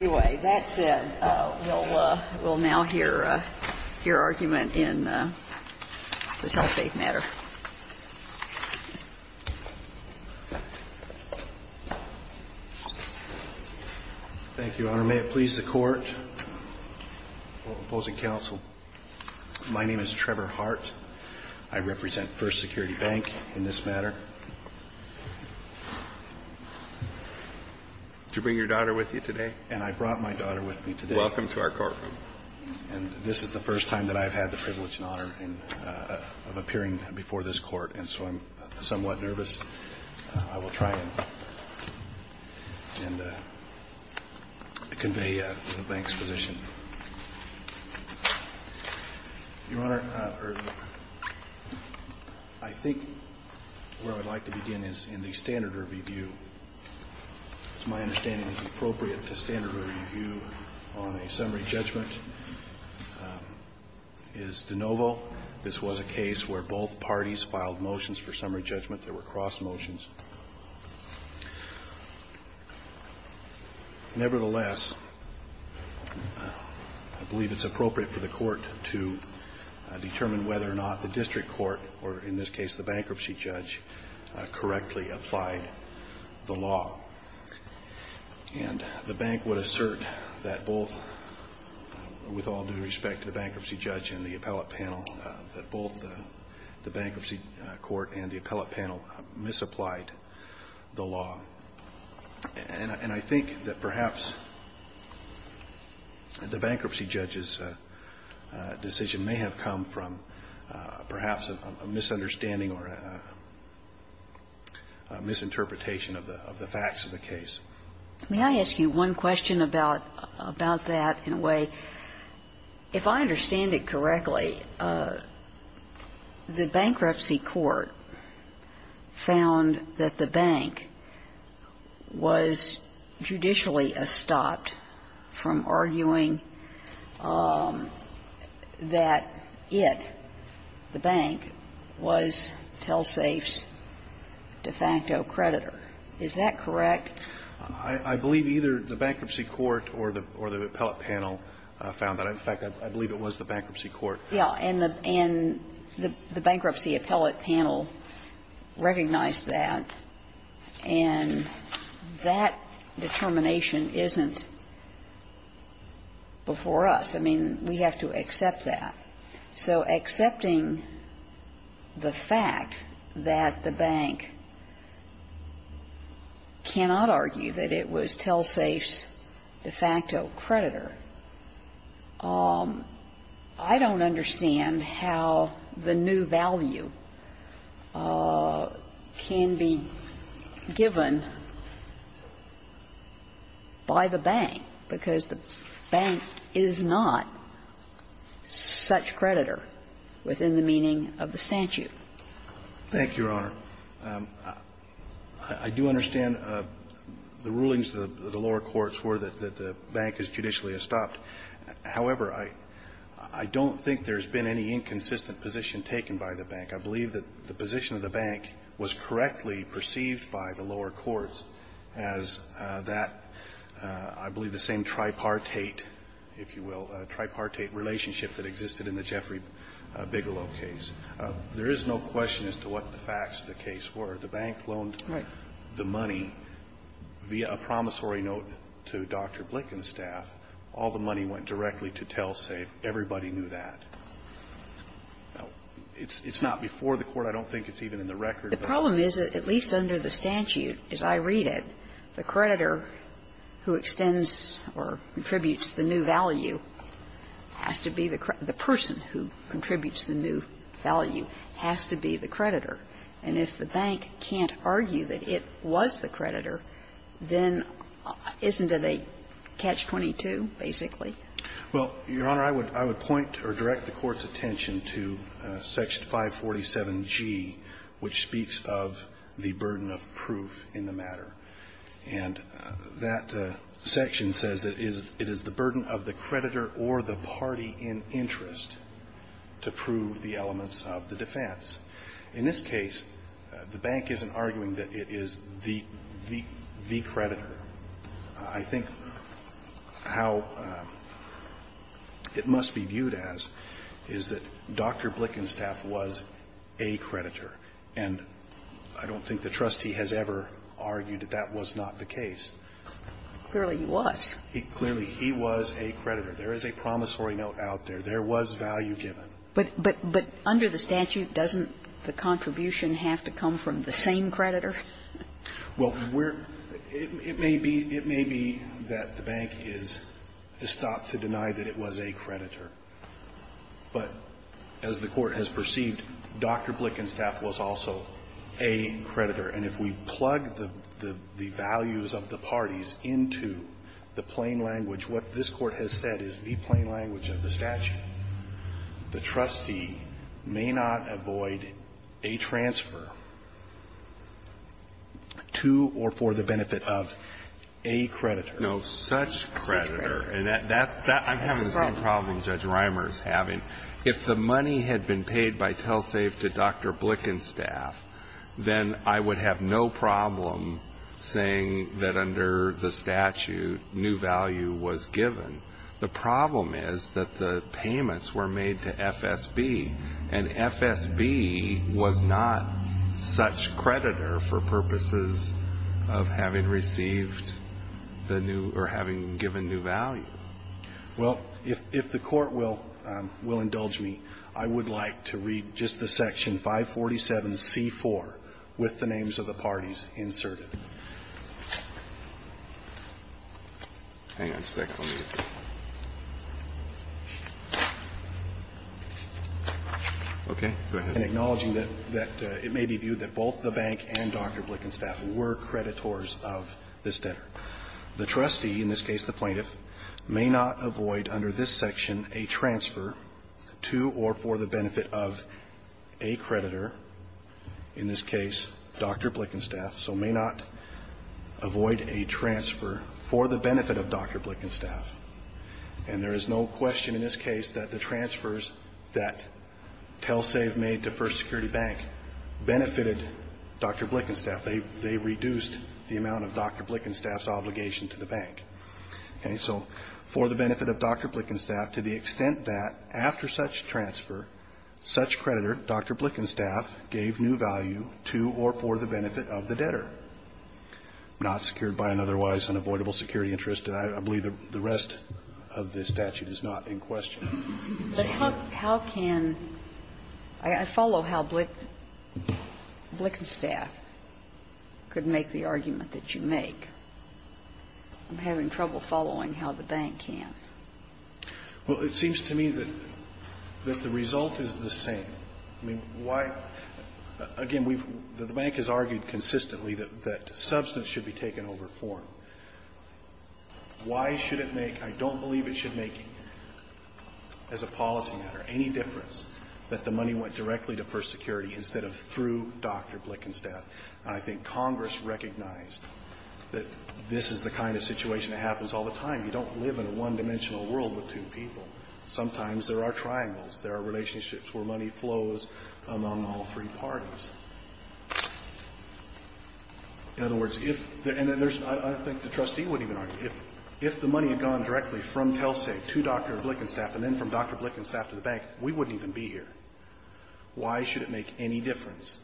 Anyway, that said, we'll now hear your argument in the telesafe matter. Thank you, Your Honor. May it please the Court, all opposing counsel, my name is Trevor Hart. I represent First Security Bank in this matter. Did you bring your daughter with you today? And I brought my daughter with me today. Welcome to our courtroom. And this is the first time that I've had the privilege and honor of appearing before this Court, and so I'm somewhat nervous. I will try and convey the bank's position. Your Honor, I think where I'd like to begin is in the standard review, which, to my understanding, is appropriate to standard review on a summary judgment, is de novo. This was a case where both parties filed motions for summary judgment that were cross-motions. Nevertheless, I believe it's appropriate for the Court to determine whether or not the district court, or in this case the bankruptcy judge, correctly applied the law. And the bank would assert that both, with all due respect to the bankruptcy judge and the appellate panel, that both the bankruptcy court and the appellate panel misapplied the law. And I think that perhaps the bankruptcy judge's decision may have come from perhaps a misunderstanding or a misinterpretation of the facts of the case. May I ask you one question about that in a way? If I understand it correctly, the bankruptcy court found that the bank was judicially astopped from arguing that it, the bank, was Telsafe's de facto creditor. Is that correct? I believe either the bankruptcy court or the appellate panel found that. In fact, I believe it was the bankruptcy court. Yeah. And the bankruptcy appellate panel recognized that. And that determination isn't before us. I mean, we have to accept that. So accepting the fact that the bank cannot argue that it was Telsafe's de facto creditor, I don't understand how the new value can be given by the bank, because the bank is not such creditor within the meaning of the statute. Thank you, Your Honor. I do understand the rulings of the lower courts were that the bank is judicially astopped. However, I don't think there's been any inconsistent position taken by the bank. I believe that the position of the bank was correctly perceived by the lower courts as that, I believe, the same tripartite, if you will, tripartite relationship that existed in the Jeffrey Bigelow case. There is no question as to what the facts of the case were. The bank loaned the money via a promissory note to Dr. Blick and staff. All the money went directly to Telsafe. Everybody knew that. It's not before the Court. I don't think it's even in the record. The problem is that at least under the statute, as I read it, the creditor who extends or contributes the new value has to be the person who contributes the new value, has to be the creditor. And if the bank can't argue that it was the creditor, then isn't it a catch-22, basically? Well, Your Honor, I would point or direct the Court's attention to Section 547G, which speaks of the burden of proof in the matter. And that section says that it is the burden of the creditor or the party in interest to prove the elements of the defense. In this case, the bank isn't arguing that it is the creditor. I think how it must be viewed as is that Dr. Blick and staff was a creditor. And I don't think the trustee has ever argued that that was not the case. Clearly, he was. Clearly, he was a creditor. There is a promissory note out there. There was value given. But under the statute, doesn't the contribution have to come from the same creditor? Well, it may be that the bank is estopped to deny that it was a creditor. But as the Court has perceived, Dr. Blick and staff was also a creditor. And if we plug the values of the parties into the plain language, what this Court has said is the plain language of the statute. The trustee may not avoid a transfer to or for the benefit of a creditor. No, such creditor. And that's kind of the same problem Judge Reimer is having. If the money had been paid by Telsave to Dr. Blick and staff, then I would have no problem saying that under the statute, new value was given. The problem is that the payments were made to FSB, and FSB was not such creditor for purposes of having received the new or having given new value. Well, if the Court will indulge me, I would like to read just the section 547C4 with the names of the parties inserted. Hang on a second. Okay. Go ahead. And acknowledging that it may be viewed that both the bank and Dr. Blick and staff were creditors of this debtor. The trustee, in this case the plaintiff, may not avoid under this section a transfer to or for the benefit of a creditor, in this case Dr. Blick and staff. So may not avoid a transfer for the benefit of Dr. Blick and staff. And there is no question in this case that the transfers that Telsave made to First Security Bank benefited Dr. Blick and staff. They reduced the amount of Dr. Blick and staff's obligation to the bank. Okay. So for the benefit of Dr. Blick and staff to the extent that after such transfer, such creditor, Dr. Blick and staff, gave new value to or for the benefit of the debtor. Not secured by an otherwise unavoidable security interest. And I believe the rest of this statute is not in question. But how can – I follow how Blick and staff could make the argument that you make. I'm having trouble following how the bank can. Well, it seems to me that the result is the same. I mean, why – again, the bank has argued consistently that substance should be taken over form. Why should it make – I don't believe it should make, as a policy matter, any difference that the money went directly to First Security instead of through Dr. Blick and staff. And I think Congress recognized that this is the kind of situation that happens all the time. You don't live in a one-dimensional world with two people. Sometimes there are triangles. There are relationships where money flows among all three parties. In other words, if – and there's – I think the trustee wouldn't even argue. If the money had gone directly from Telsec to Dr. Blick and staff and then from Dr. Blick and staff to the bank, we wouldn't even be here. Why should it make any difference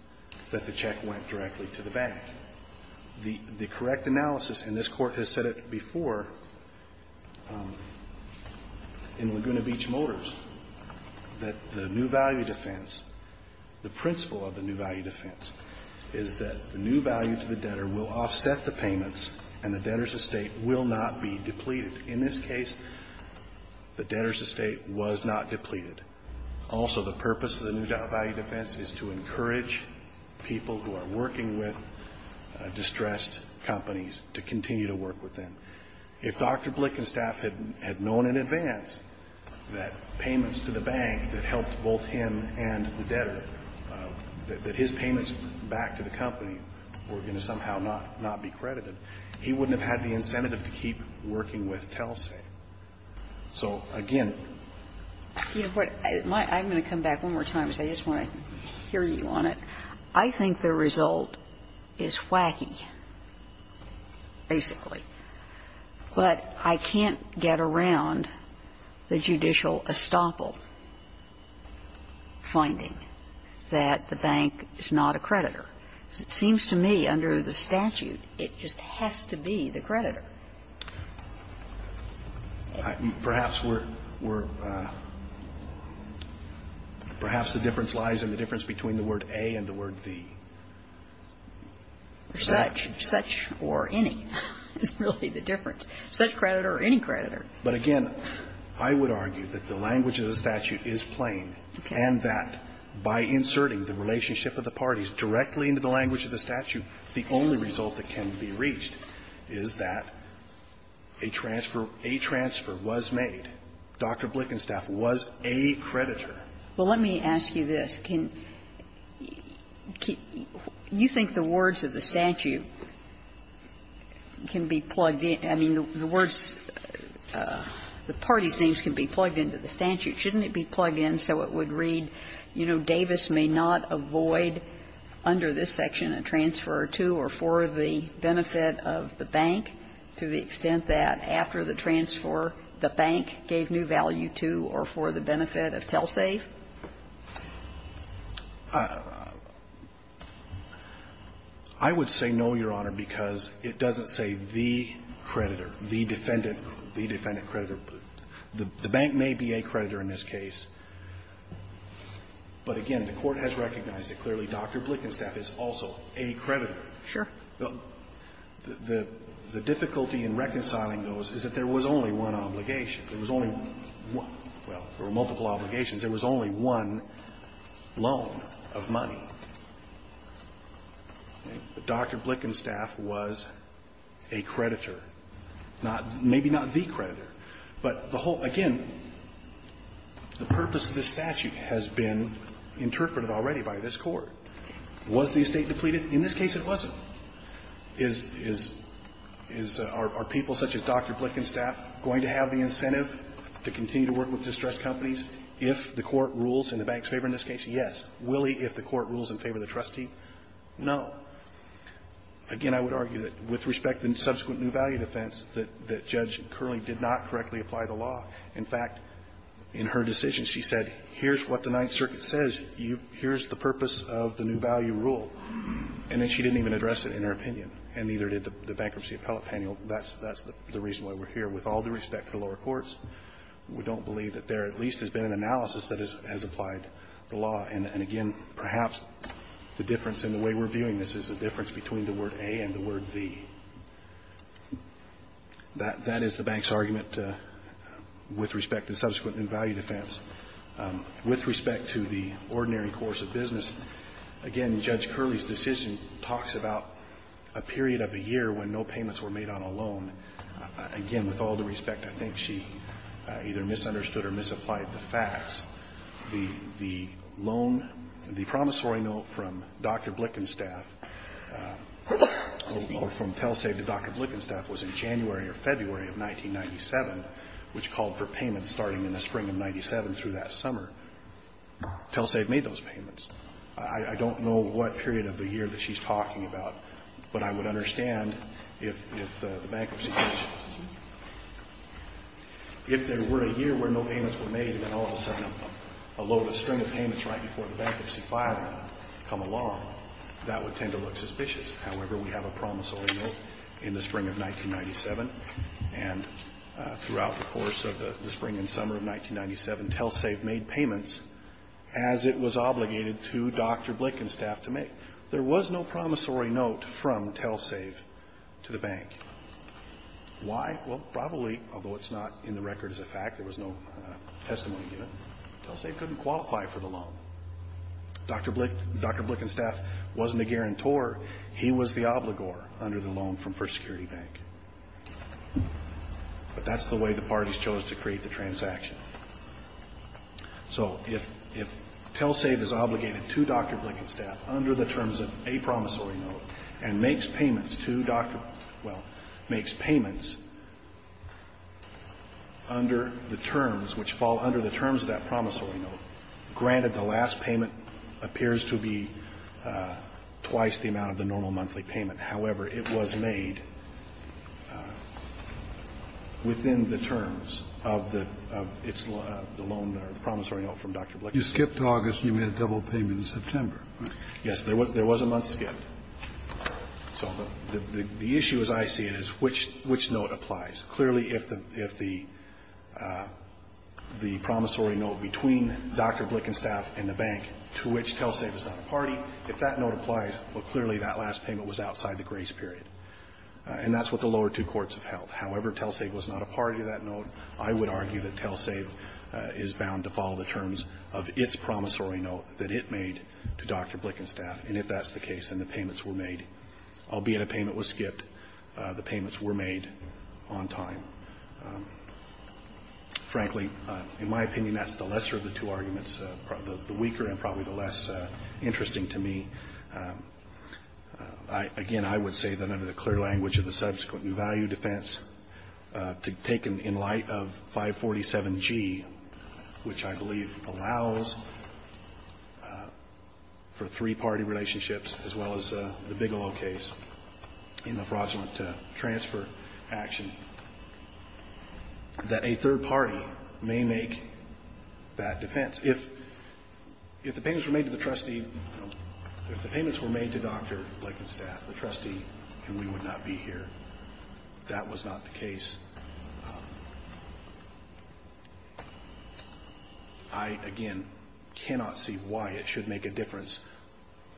that the check went directly to the bank? The correct analysis, and this Court has said it before in Laguna Beach Motors, that the new value defense, the principle of the new value defense is that the new value to the debtor will offset the payments and the debtor's estate will not be depleted. In this case, the debtor's estate was not depleted. Also, the purpose of the new value defense is to encourage people who are working with distressed companies to continue to work with them. If Dr. Blick and staff had known in advance that payments to the bank that helped both him and the debtor, that his payments back to the company were going to somehow not be credited, he wouldn't have had the incentive to keep working with Telsec. So, again – You know what? I'm going to come back one more time because I just want to hear you on it. I think the result is wacky, basically. But I can't get around the judicial estoppel finding that the bank is not a creditor. It seems to me under the statute it just has to be the creditor. Perhaps we're – perhaps the difference lies in the difference between the word A and the word the. Such or any. It's really the difference. Such creditor or any creditor. But, again, I would argue that the language of the statute is plain and that by inserting the relationship of the parties directly into the language of the statute, the only result that can be reached is that a transfer – a transfer was made. Dr. Blick and staff was a creditor. Well, let me ask you this. Can – you think the words of the statute can be plugged in – I mean, the words – the parties' names can be plugged into the statute. Shouldn't it be plugged in so it would read, you know, Davis may not avoid under this section a transfer to or for the benefit of the bank, to the extent that after the transfer the bank gave new value to or for the benefit of Telsec? I would say no, Your Honor, because it doesn't say the creditor, the defendant – the defendant creditor. The bank may be a creditor in this case, but, again, the Court has recognized that, clearly, Dr. Blick and staff is also a creditor. Sure. The difficulty in reconciling those is that there was only one obligation. There was only one – well, there were multiple obligations. There was only one loan of money. Dr. Blick and staff was a creditor, not – maybe not the creditor, but the whole – again, the purpose of this statute has been interpreted already by this Court. Was the estate depleted? In this case, it wasn't. Is – are people such as Dr. Blick and staff going to have the incentive to continue to work with distressed companies if the Court rules in the bank's favor in this case? Yes. Will he, if the Court rules in favor of the trustee? No. Again, I would argue that with respect to the subsequent new value defense, that Judge Curley did not correctly apply the law. In fact, in her decision, she said, here's what the Ninth Circuit says. Here's the purpose of the new value rule. And then she didn't even address it in her opinion, and neither did the bankruptcy appellate panel. That's the reason why we're here. With all due respect to the lower courts, we don't believe that there at least has been an analysis that has applied the law. And again, perhaps the difference in the way we're viewing this is the difference between the word A and the word the. That is the bank's argument with respect to the subsequent new value defense. With respect to the ordinary course of business, again, Judge Curley's decision talks about a period of a year when no payments were made on a loan. Again, with all due respect, I think she either misunderstood or misapplied the facts. The loan, the promissory note from Dr. Blickenstaff, or from Telsave to Dr. Blickenstaff was in January or February of 1997, which called for payments starting in the spring of 1997 through that summer. Telsave made those payments. I don't know what period of the year that she's talking about, but I would understand if the bankruptcy case, if there were a year where no payments were made, and then all of a sudden a load of string of payments right before the bankruptcy filing come along, that would tend to look suspicious. However, we have a promissory note in the spring of 1997, and throughout the course of the spring and summer of 1997, Telsave made payments as it was obligated to Dr. Blickenstaff to make. There was no promissory note from Telsave to the bank. Why? Well, probably, although it's not in the record as a fact, there was no testimony given, Telsave couldn't qualify for the loan. Dr. Blickenstaff wasn't a guarantor. He was the obligor under the loan from First Security Bank. But that's the way the parties chose to create the transaction. So if Telsave is obligated to Dr. Blickenstaff under the terms of a promissory note and makes payments to Dr. Blickenstaff, well, makes payments under the terms which fall under the terms of that promissory note, granted the last payment appears to be twice the amount of the normal monthly payment, however, it was made within the terms of the loan or the promissory note from Dr. Blickenstaff. You skipped August and you made a double payment in September. Yes, there was a month skipped. So the issue, as I see it, is which note applies. Clearly, if the promissory note between Dr. Blickenstaff and the bank to which Telsave is not a party, if that note applies, well, clearly that last payment was outside the grace period. And that's what the lower two courts have held. However, Telsave was not a party to that note. I would argue that Telsave is bound to follow the terms of its promissory note that it made to Dr. Blickenstaff. And if that's the case, then the payments were made. Albeit a payment was skipped, the payments were made on time. Frankly, in my opinion, that's the lesser of the two arguments, the weaker and probably the less interesting to me. Again, I would say that under the clear language of the subsequent new value defense, to take in light of 547G, which I believe allows for three-party relationships as well as the Bigelow case in the fraudulent transfer action, that a third party may make that defense. If the payments were made to the trustee or if the payments were made to Dr. Blickenstaff, the trustee, then we would not be here. That was not the case. I, again, cannot see why it should make a difference.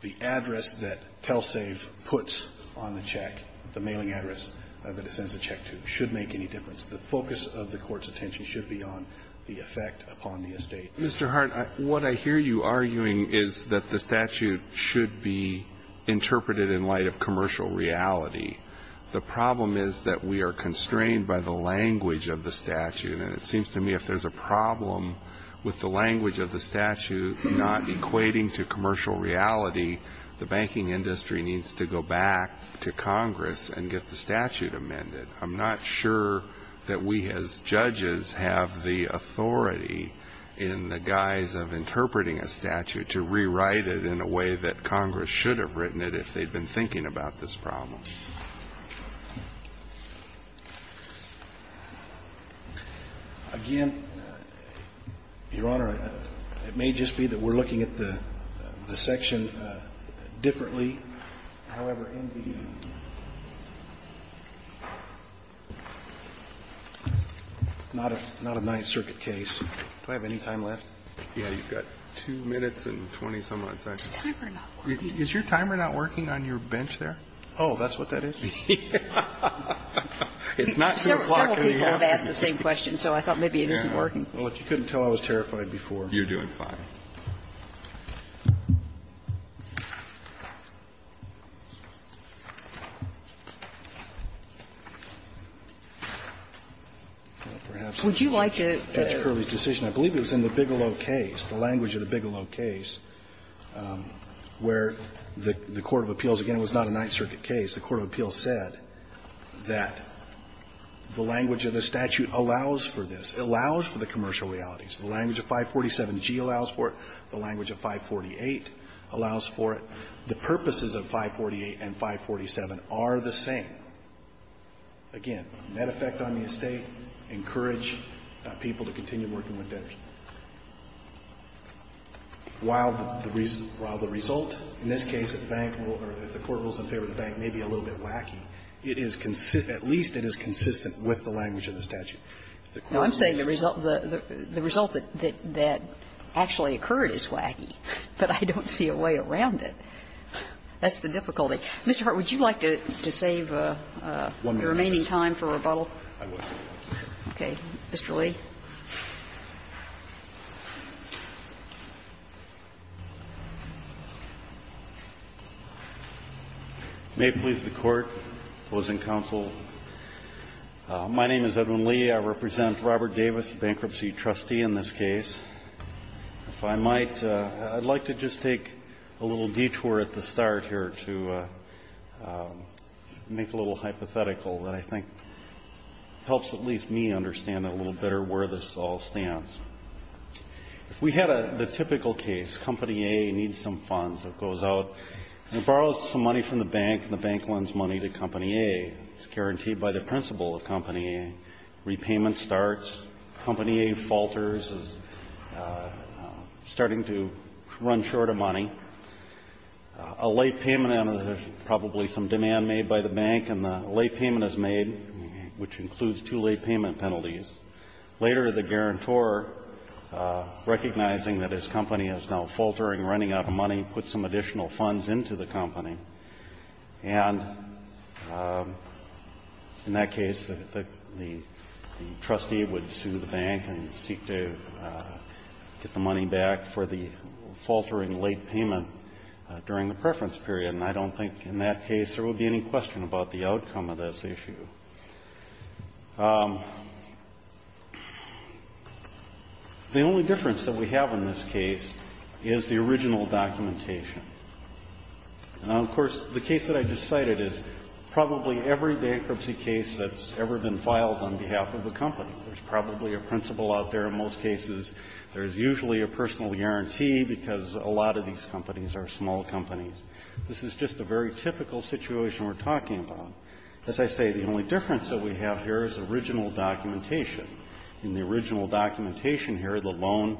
The address that Telsave puts on the check, the mailing address that it sends a check to, should make any difference. The focus of the Court's attention should be on the effect upon the estate. Mr. Hart, what I hear you arguing is that the statute should be interpreted in light of commercial reality. The problem is that we are constrained by the language of the statute. And it seems to me if there's a problem with the language of the statute not equating to commercial reality, the banking industry needs to go back to Congress and get the statute amended. I'm not sure that we as judges have the authority in the guise of interpreting a statute to rewrite it in a way that Congress should have written it if they'd been thinking about this problem. Again, Your Honor, it may just be that we're looking at the section differently. However, in the not a Ninth Circuit case. Do I have any time left? Yeah, you've got 2 minutes and 20-some odd seconds. Is your timer not working on your bench there? Oh, that's what that is? It's not 2 o'clock in the afternoon. Several people have asked the same question, so I thought maybe it isn't working. Well, if you couldn't tell I was terrified before. You're doing fine. Would you like to? I believe it was in the Bigelow case, the language of the Bigelow case, where the court of appeals, again, it was not a Ninth Circuit case, the court of appeals said that the language of the statute allows for this. It allows for the commercial realities. The language of 547G allows for it. The language of 548 allows for it. The purposes of 548 and 547 are the same. Again, net effect on the estate, encourage people to continue working with debtors. While the result, in this case, if the court rules in favor of the bank, may be a little bit wacky, at least it is consistent with the language of the statute. Now, I'm saying the result that actually occurred is wacky, but I don't see a way around it. That's the difficulty. Mr. Hart, would you like to save the remaining time for rebuttal? Okay. Mr. Lee. May it please the Court, opposing counsel, my name is Edwin Lee. I represent Robert Davis, bankruptcy trustee in this case. If I might, I'd like to just take a little detour at the start here to make a little hypothetical that I think helps at least me understand a little better where this all stands. If we had the typical case, Company A needs some funds, it goes out and borrows some money from the bank, and the bank lends money to Company A. It's guaranteed by the principle of Company A. Repayment starts. Company A falters, is starting to run short of money. A late payment, and there's probably some demand made by the bank, and the late payment is made, which includes two late payment penalties. Later, the guarantor, recognizing that his company is now faltering, running out of money, puts some additional funds into the company. And in that case, the trustee would sue the bank and seek to get the money back for the faltering late payment during the preference period. And I don't think in that case there would be any question about the outcome of this issue. The only difference that we have in this case is the original documentation. Now, of course, the case that I just cited is probably every bankruptcy case that's ever been filed on behalf of a company. There's probably a principal out there in most cases. There's usually a personal guarantee, because a lot of these companies are small companies. This is just a very typical situation we're talking about. As I say, the only difference that we have here is the original documentation. In the original documentation here, the loan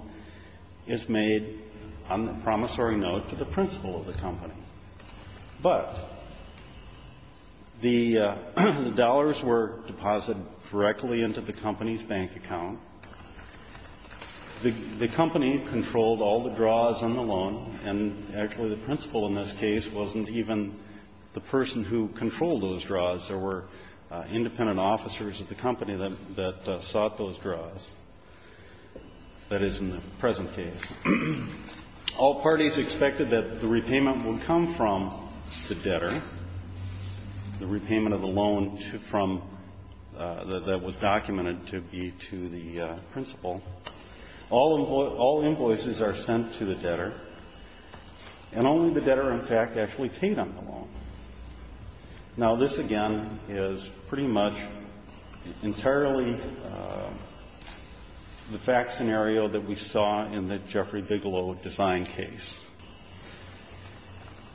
is made on the promissory note to the principal of the company. But the dollars were deposited directly into the company's bank account. The company controlled all the draws on the loan, and actually the principal in this case wasn't even the person who controlled those draws. There were independent officers at the company that sought those draws, that is, in the present case. All parties expected that the repayment would come from the debtor, the repayment of the loan from the one that was documented to be to the principal. All invoices are sent to the debtor, and only the debtor, in fact, actually paid on the loan. Now, this, again, is pretty much entirely the fact scenario that we saw in the Jeffrey Bigelow design case.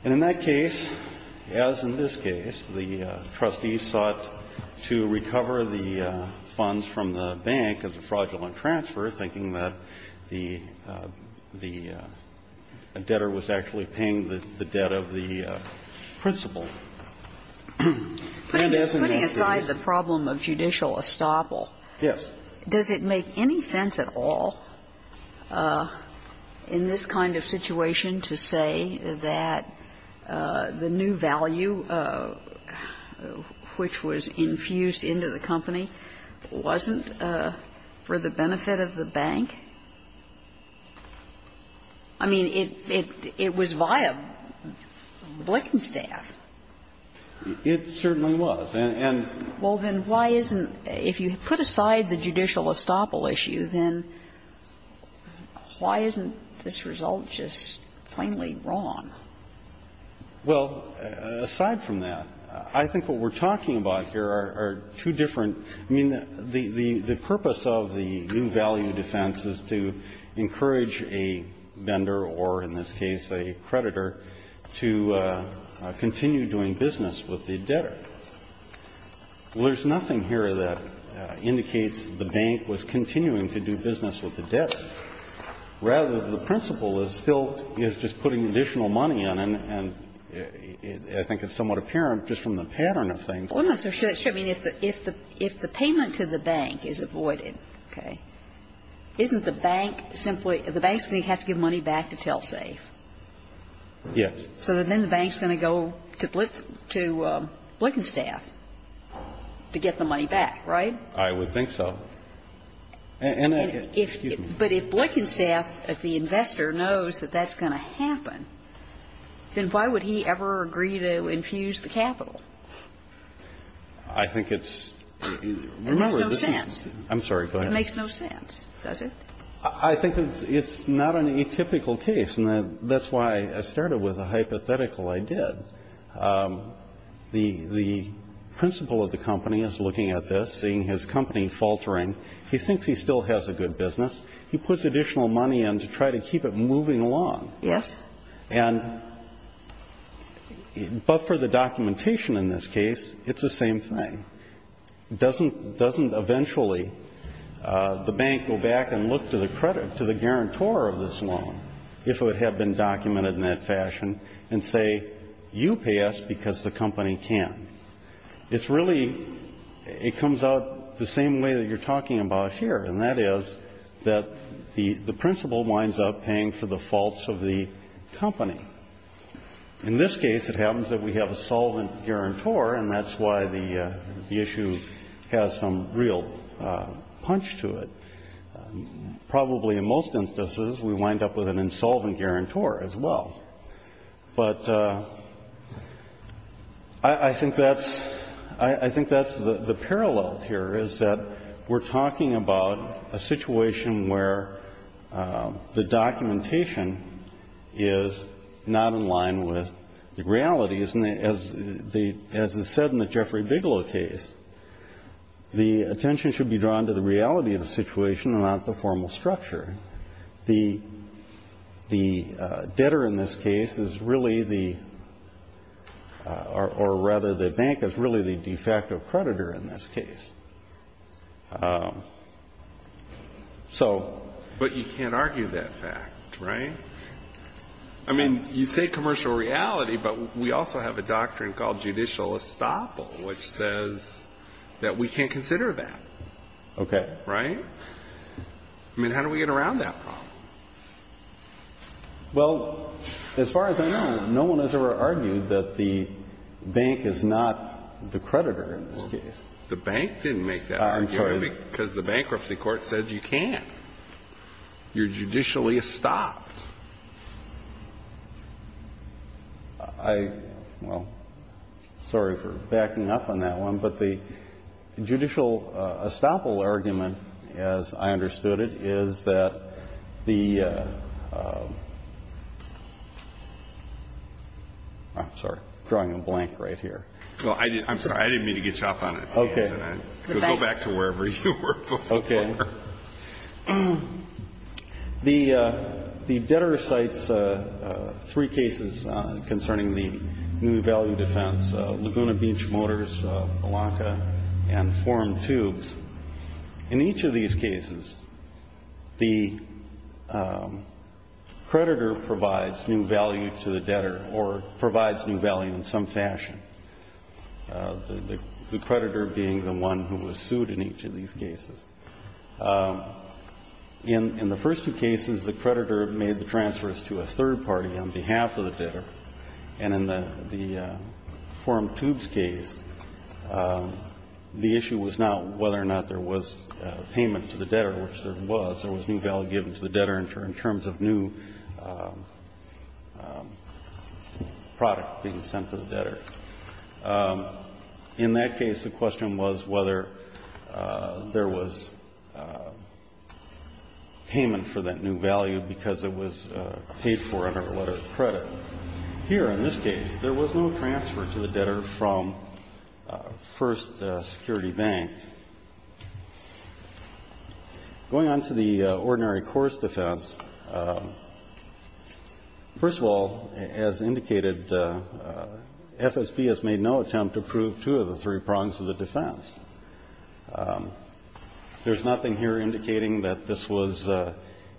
And in that case, as in this case, the trustees sought to recover the funds from the bank as a fraudulent transfer, thinking that the debtor was actually paying the debt of the principal. And as an answer to this question, Justice Kagan, I don't think it makes any sense at all in this kind of situation to say that the new value which was infused into the company wasn't for the benefit of the bank. I mean, it was via Blickenstaff. It certainly was. And, and why isn't – if you put aside the judicial estoppel issue, then that's a different question. Why isn't this result just plainly wrong? Well, aside from that, I think what we're talking about here are two different – I mean, the purpose of the new value defense is to encourage a vendor or, in this case, a creditor, to continue doing business with the debtor. Well, there's nothing here that indicates the bank was continuing to do business with the debtor. Rather, the principal is still – is just putting additional money in, and I think it's somewhat apparent just from the pattern of things. Well, I'm not so sure. I mean, if the payment to the bank is avoided, okay, isn't the bank simply – the banks have to give money back to Telsafe. Yes. So then the bank's going to go to Blickenstaff to get the money back, right? I would think so. And if – but if Blickenstaff, if the investor, knows that that's going to happen, then why would he ever agree to infuse the capital? I think it's – remember, this is – It makes no sense. I'm sorry. Go ahead. It makes no sense, does it? I think it's not an atypical case, and that's why I started with a hypothetical I did. The – the principal of the company is looking at this, seeing his company faltering. He thinks he still has a good business. He puts additional money in to try to keep it moving along. Yes. And – but for the documentation in this case, it's the same thing. Doesn't – doesn't eventually the bank go back and look to the credit – to the guarantor of this loan, if it had been documented in that fashion, and say, you pay us because the company can. It's really – it comes out the same way that you're talking about here, and that is that the – the principal winds up paying for the faults of the company. In this case, it happens that we have a solvent guarantor, and that's why the – the issue has some real punch to it. Probably in most instances, we wind up with an insolvent guarantor as well. But I think that's – I think that's the parallel here, is that we're talking about a not in line with the reality, isn't it? As the – as is said in the Jeffrey Bigelow case, the attention should be drawn to the reality of the situation, not the formal structure. The – the debtor in this case is really the – or rather, the bank is really the de facto creditor in this case. So – But you can't argue that fact, right? I mean, you say commercial reality, but we also have a doctrine called judicial estoppel, which says that we can't consider that. Okay. Right? I mean, how do we get around that problem? Well, as far as I know, no one has ever argued that the bank is not the creditor in this case. The bank didn't make that argument. I'm sorry. Because the bankruptcy court says you can't. You're judicially estopped. I – well, sorry for backing up on that one. But the judicial estoppel argument, as I understood it, is that the – I'm sorry. I'm drawing a blank right here. Well, I didn't mean to get you off on it. Okay. Go back to wherever you were before. Okay. The debtor cites three cases concerning the new value defense, Laguna Beach Motors, Alonka, and Forum Tubes. In each of these cases, the creditor provides new value to the debtor or provides new value in some fashion, the creditor being the one who was sued in each of these cases. In the first two cases, the creditor made the transfers to a third party on behalf of the debtor. And in the Forum Tubes case, the issue was not whether or not there was payment to the debtor, which there was. There was new value given to the debtor in terms of new product being sent to the debtor. In that case, the question was whether there was payment for that new value because it was paid for under a letter of credit. Here, in this case, there was no transfer to the debtor from First Security Bank. Going on to the ordinary course defense, first of all, as indicated, FSA, as I said, CSB has made no attempt to prove two of the three prongs of the defense. There's nothing here indicating that this was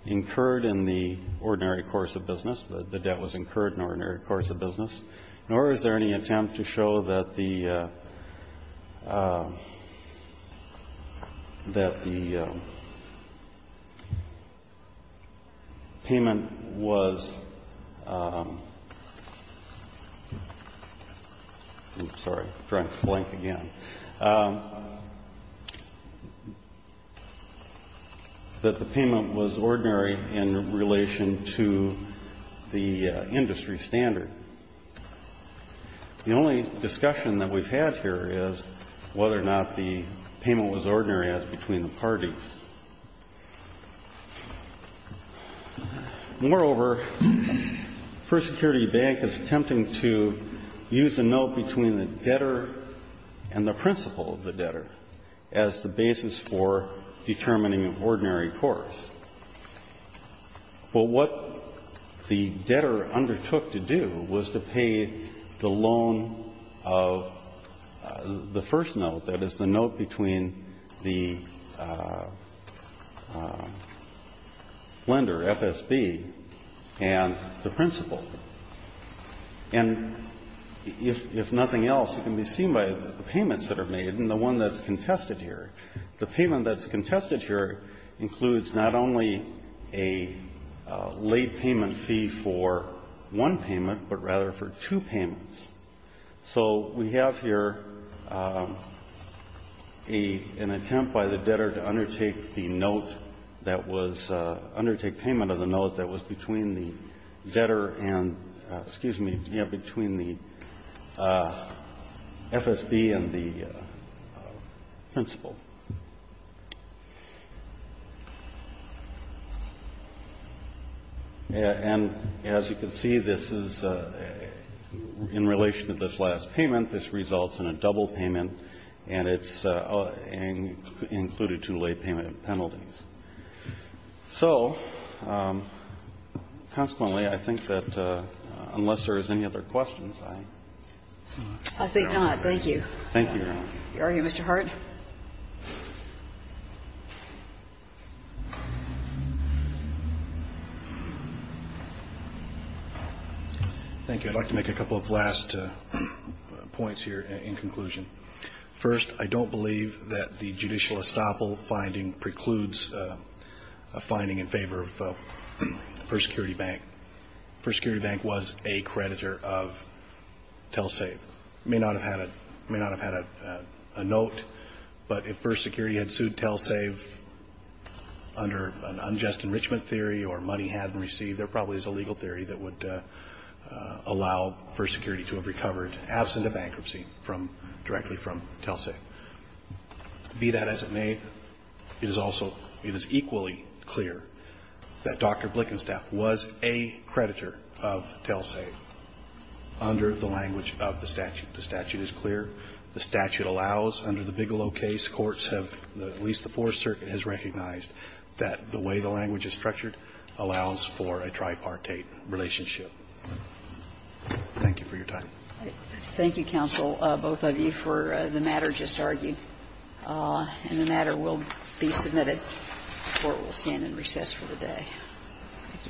incurred in the ordinary course of business, that the debt was incurred in the ordinary course of business, nor is there any attempt to show that the payment was, that the payment was, that the payment was, that the payment was, that the payment was ordinary in relation to the industry standard. The only discussion that we've had here is whether or not the payment was ordinary as between the parties. Moreover, First Security Bank is attempting to use the notion that the payment was ordinary as a note between the debtor and the principal of the debtor as the basis for determining ordinary course. But what the debtor undertook to do was to pay the loan of the first note, that is, the note between the lender, FSB, and the principal. And if nothing else, it can be seen by the payments that are made and the one that's contested here. The payment that's contested here includes not only a late payment fee for one payment, but rather for two payments. So we have here an attempt by the debtor to undertake the note that was, undertake payment of the note that was between the debtor and, excuse me, between the FSB and the principal. And as you can see, this is, you know, this is the last payment, this results in a double payment, and it's included two late payment penalties. So, consequently, I think that unless there's any other questions, I'm not going to argue. Thank you. Thank you, Your Honor. Are you, Mr. Hart? Thank you. I'd like to make a couple of last points here in conclusion. First, I don't believe that the judicial estoppel finding precludes a finding in favor of First Security Bank. First Security Bank was a creditor of Telsave. May not have had a note, but if First Security had sued Telsave under an unjust enrichment theory or money hadn't received, there probably is a legal theory that would allow First Security to have recovered absent a bankruptcy from, directly from Telsave. Be that as it may, it is also, it is equally clear that Dr. Blickenstaff was a creditor of Telsave under the language of the statute. The statute is clear. The statute allows, under the Bigelow case, courts have, at least the Fourth Circuit, which is structured, allows for a tripartite relationship. Thank you for your time. Thank you, counsel, both of you, for the matter just argued. And the matter will be submitted. The Court will stand in recess for the day. Thank you.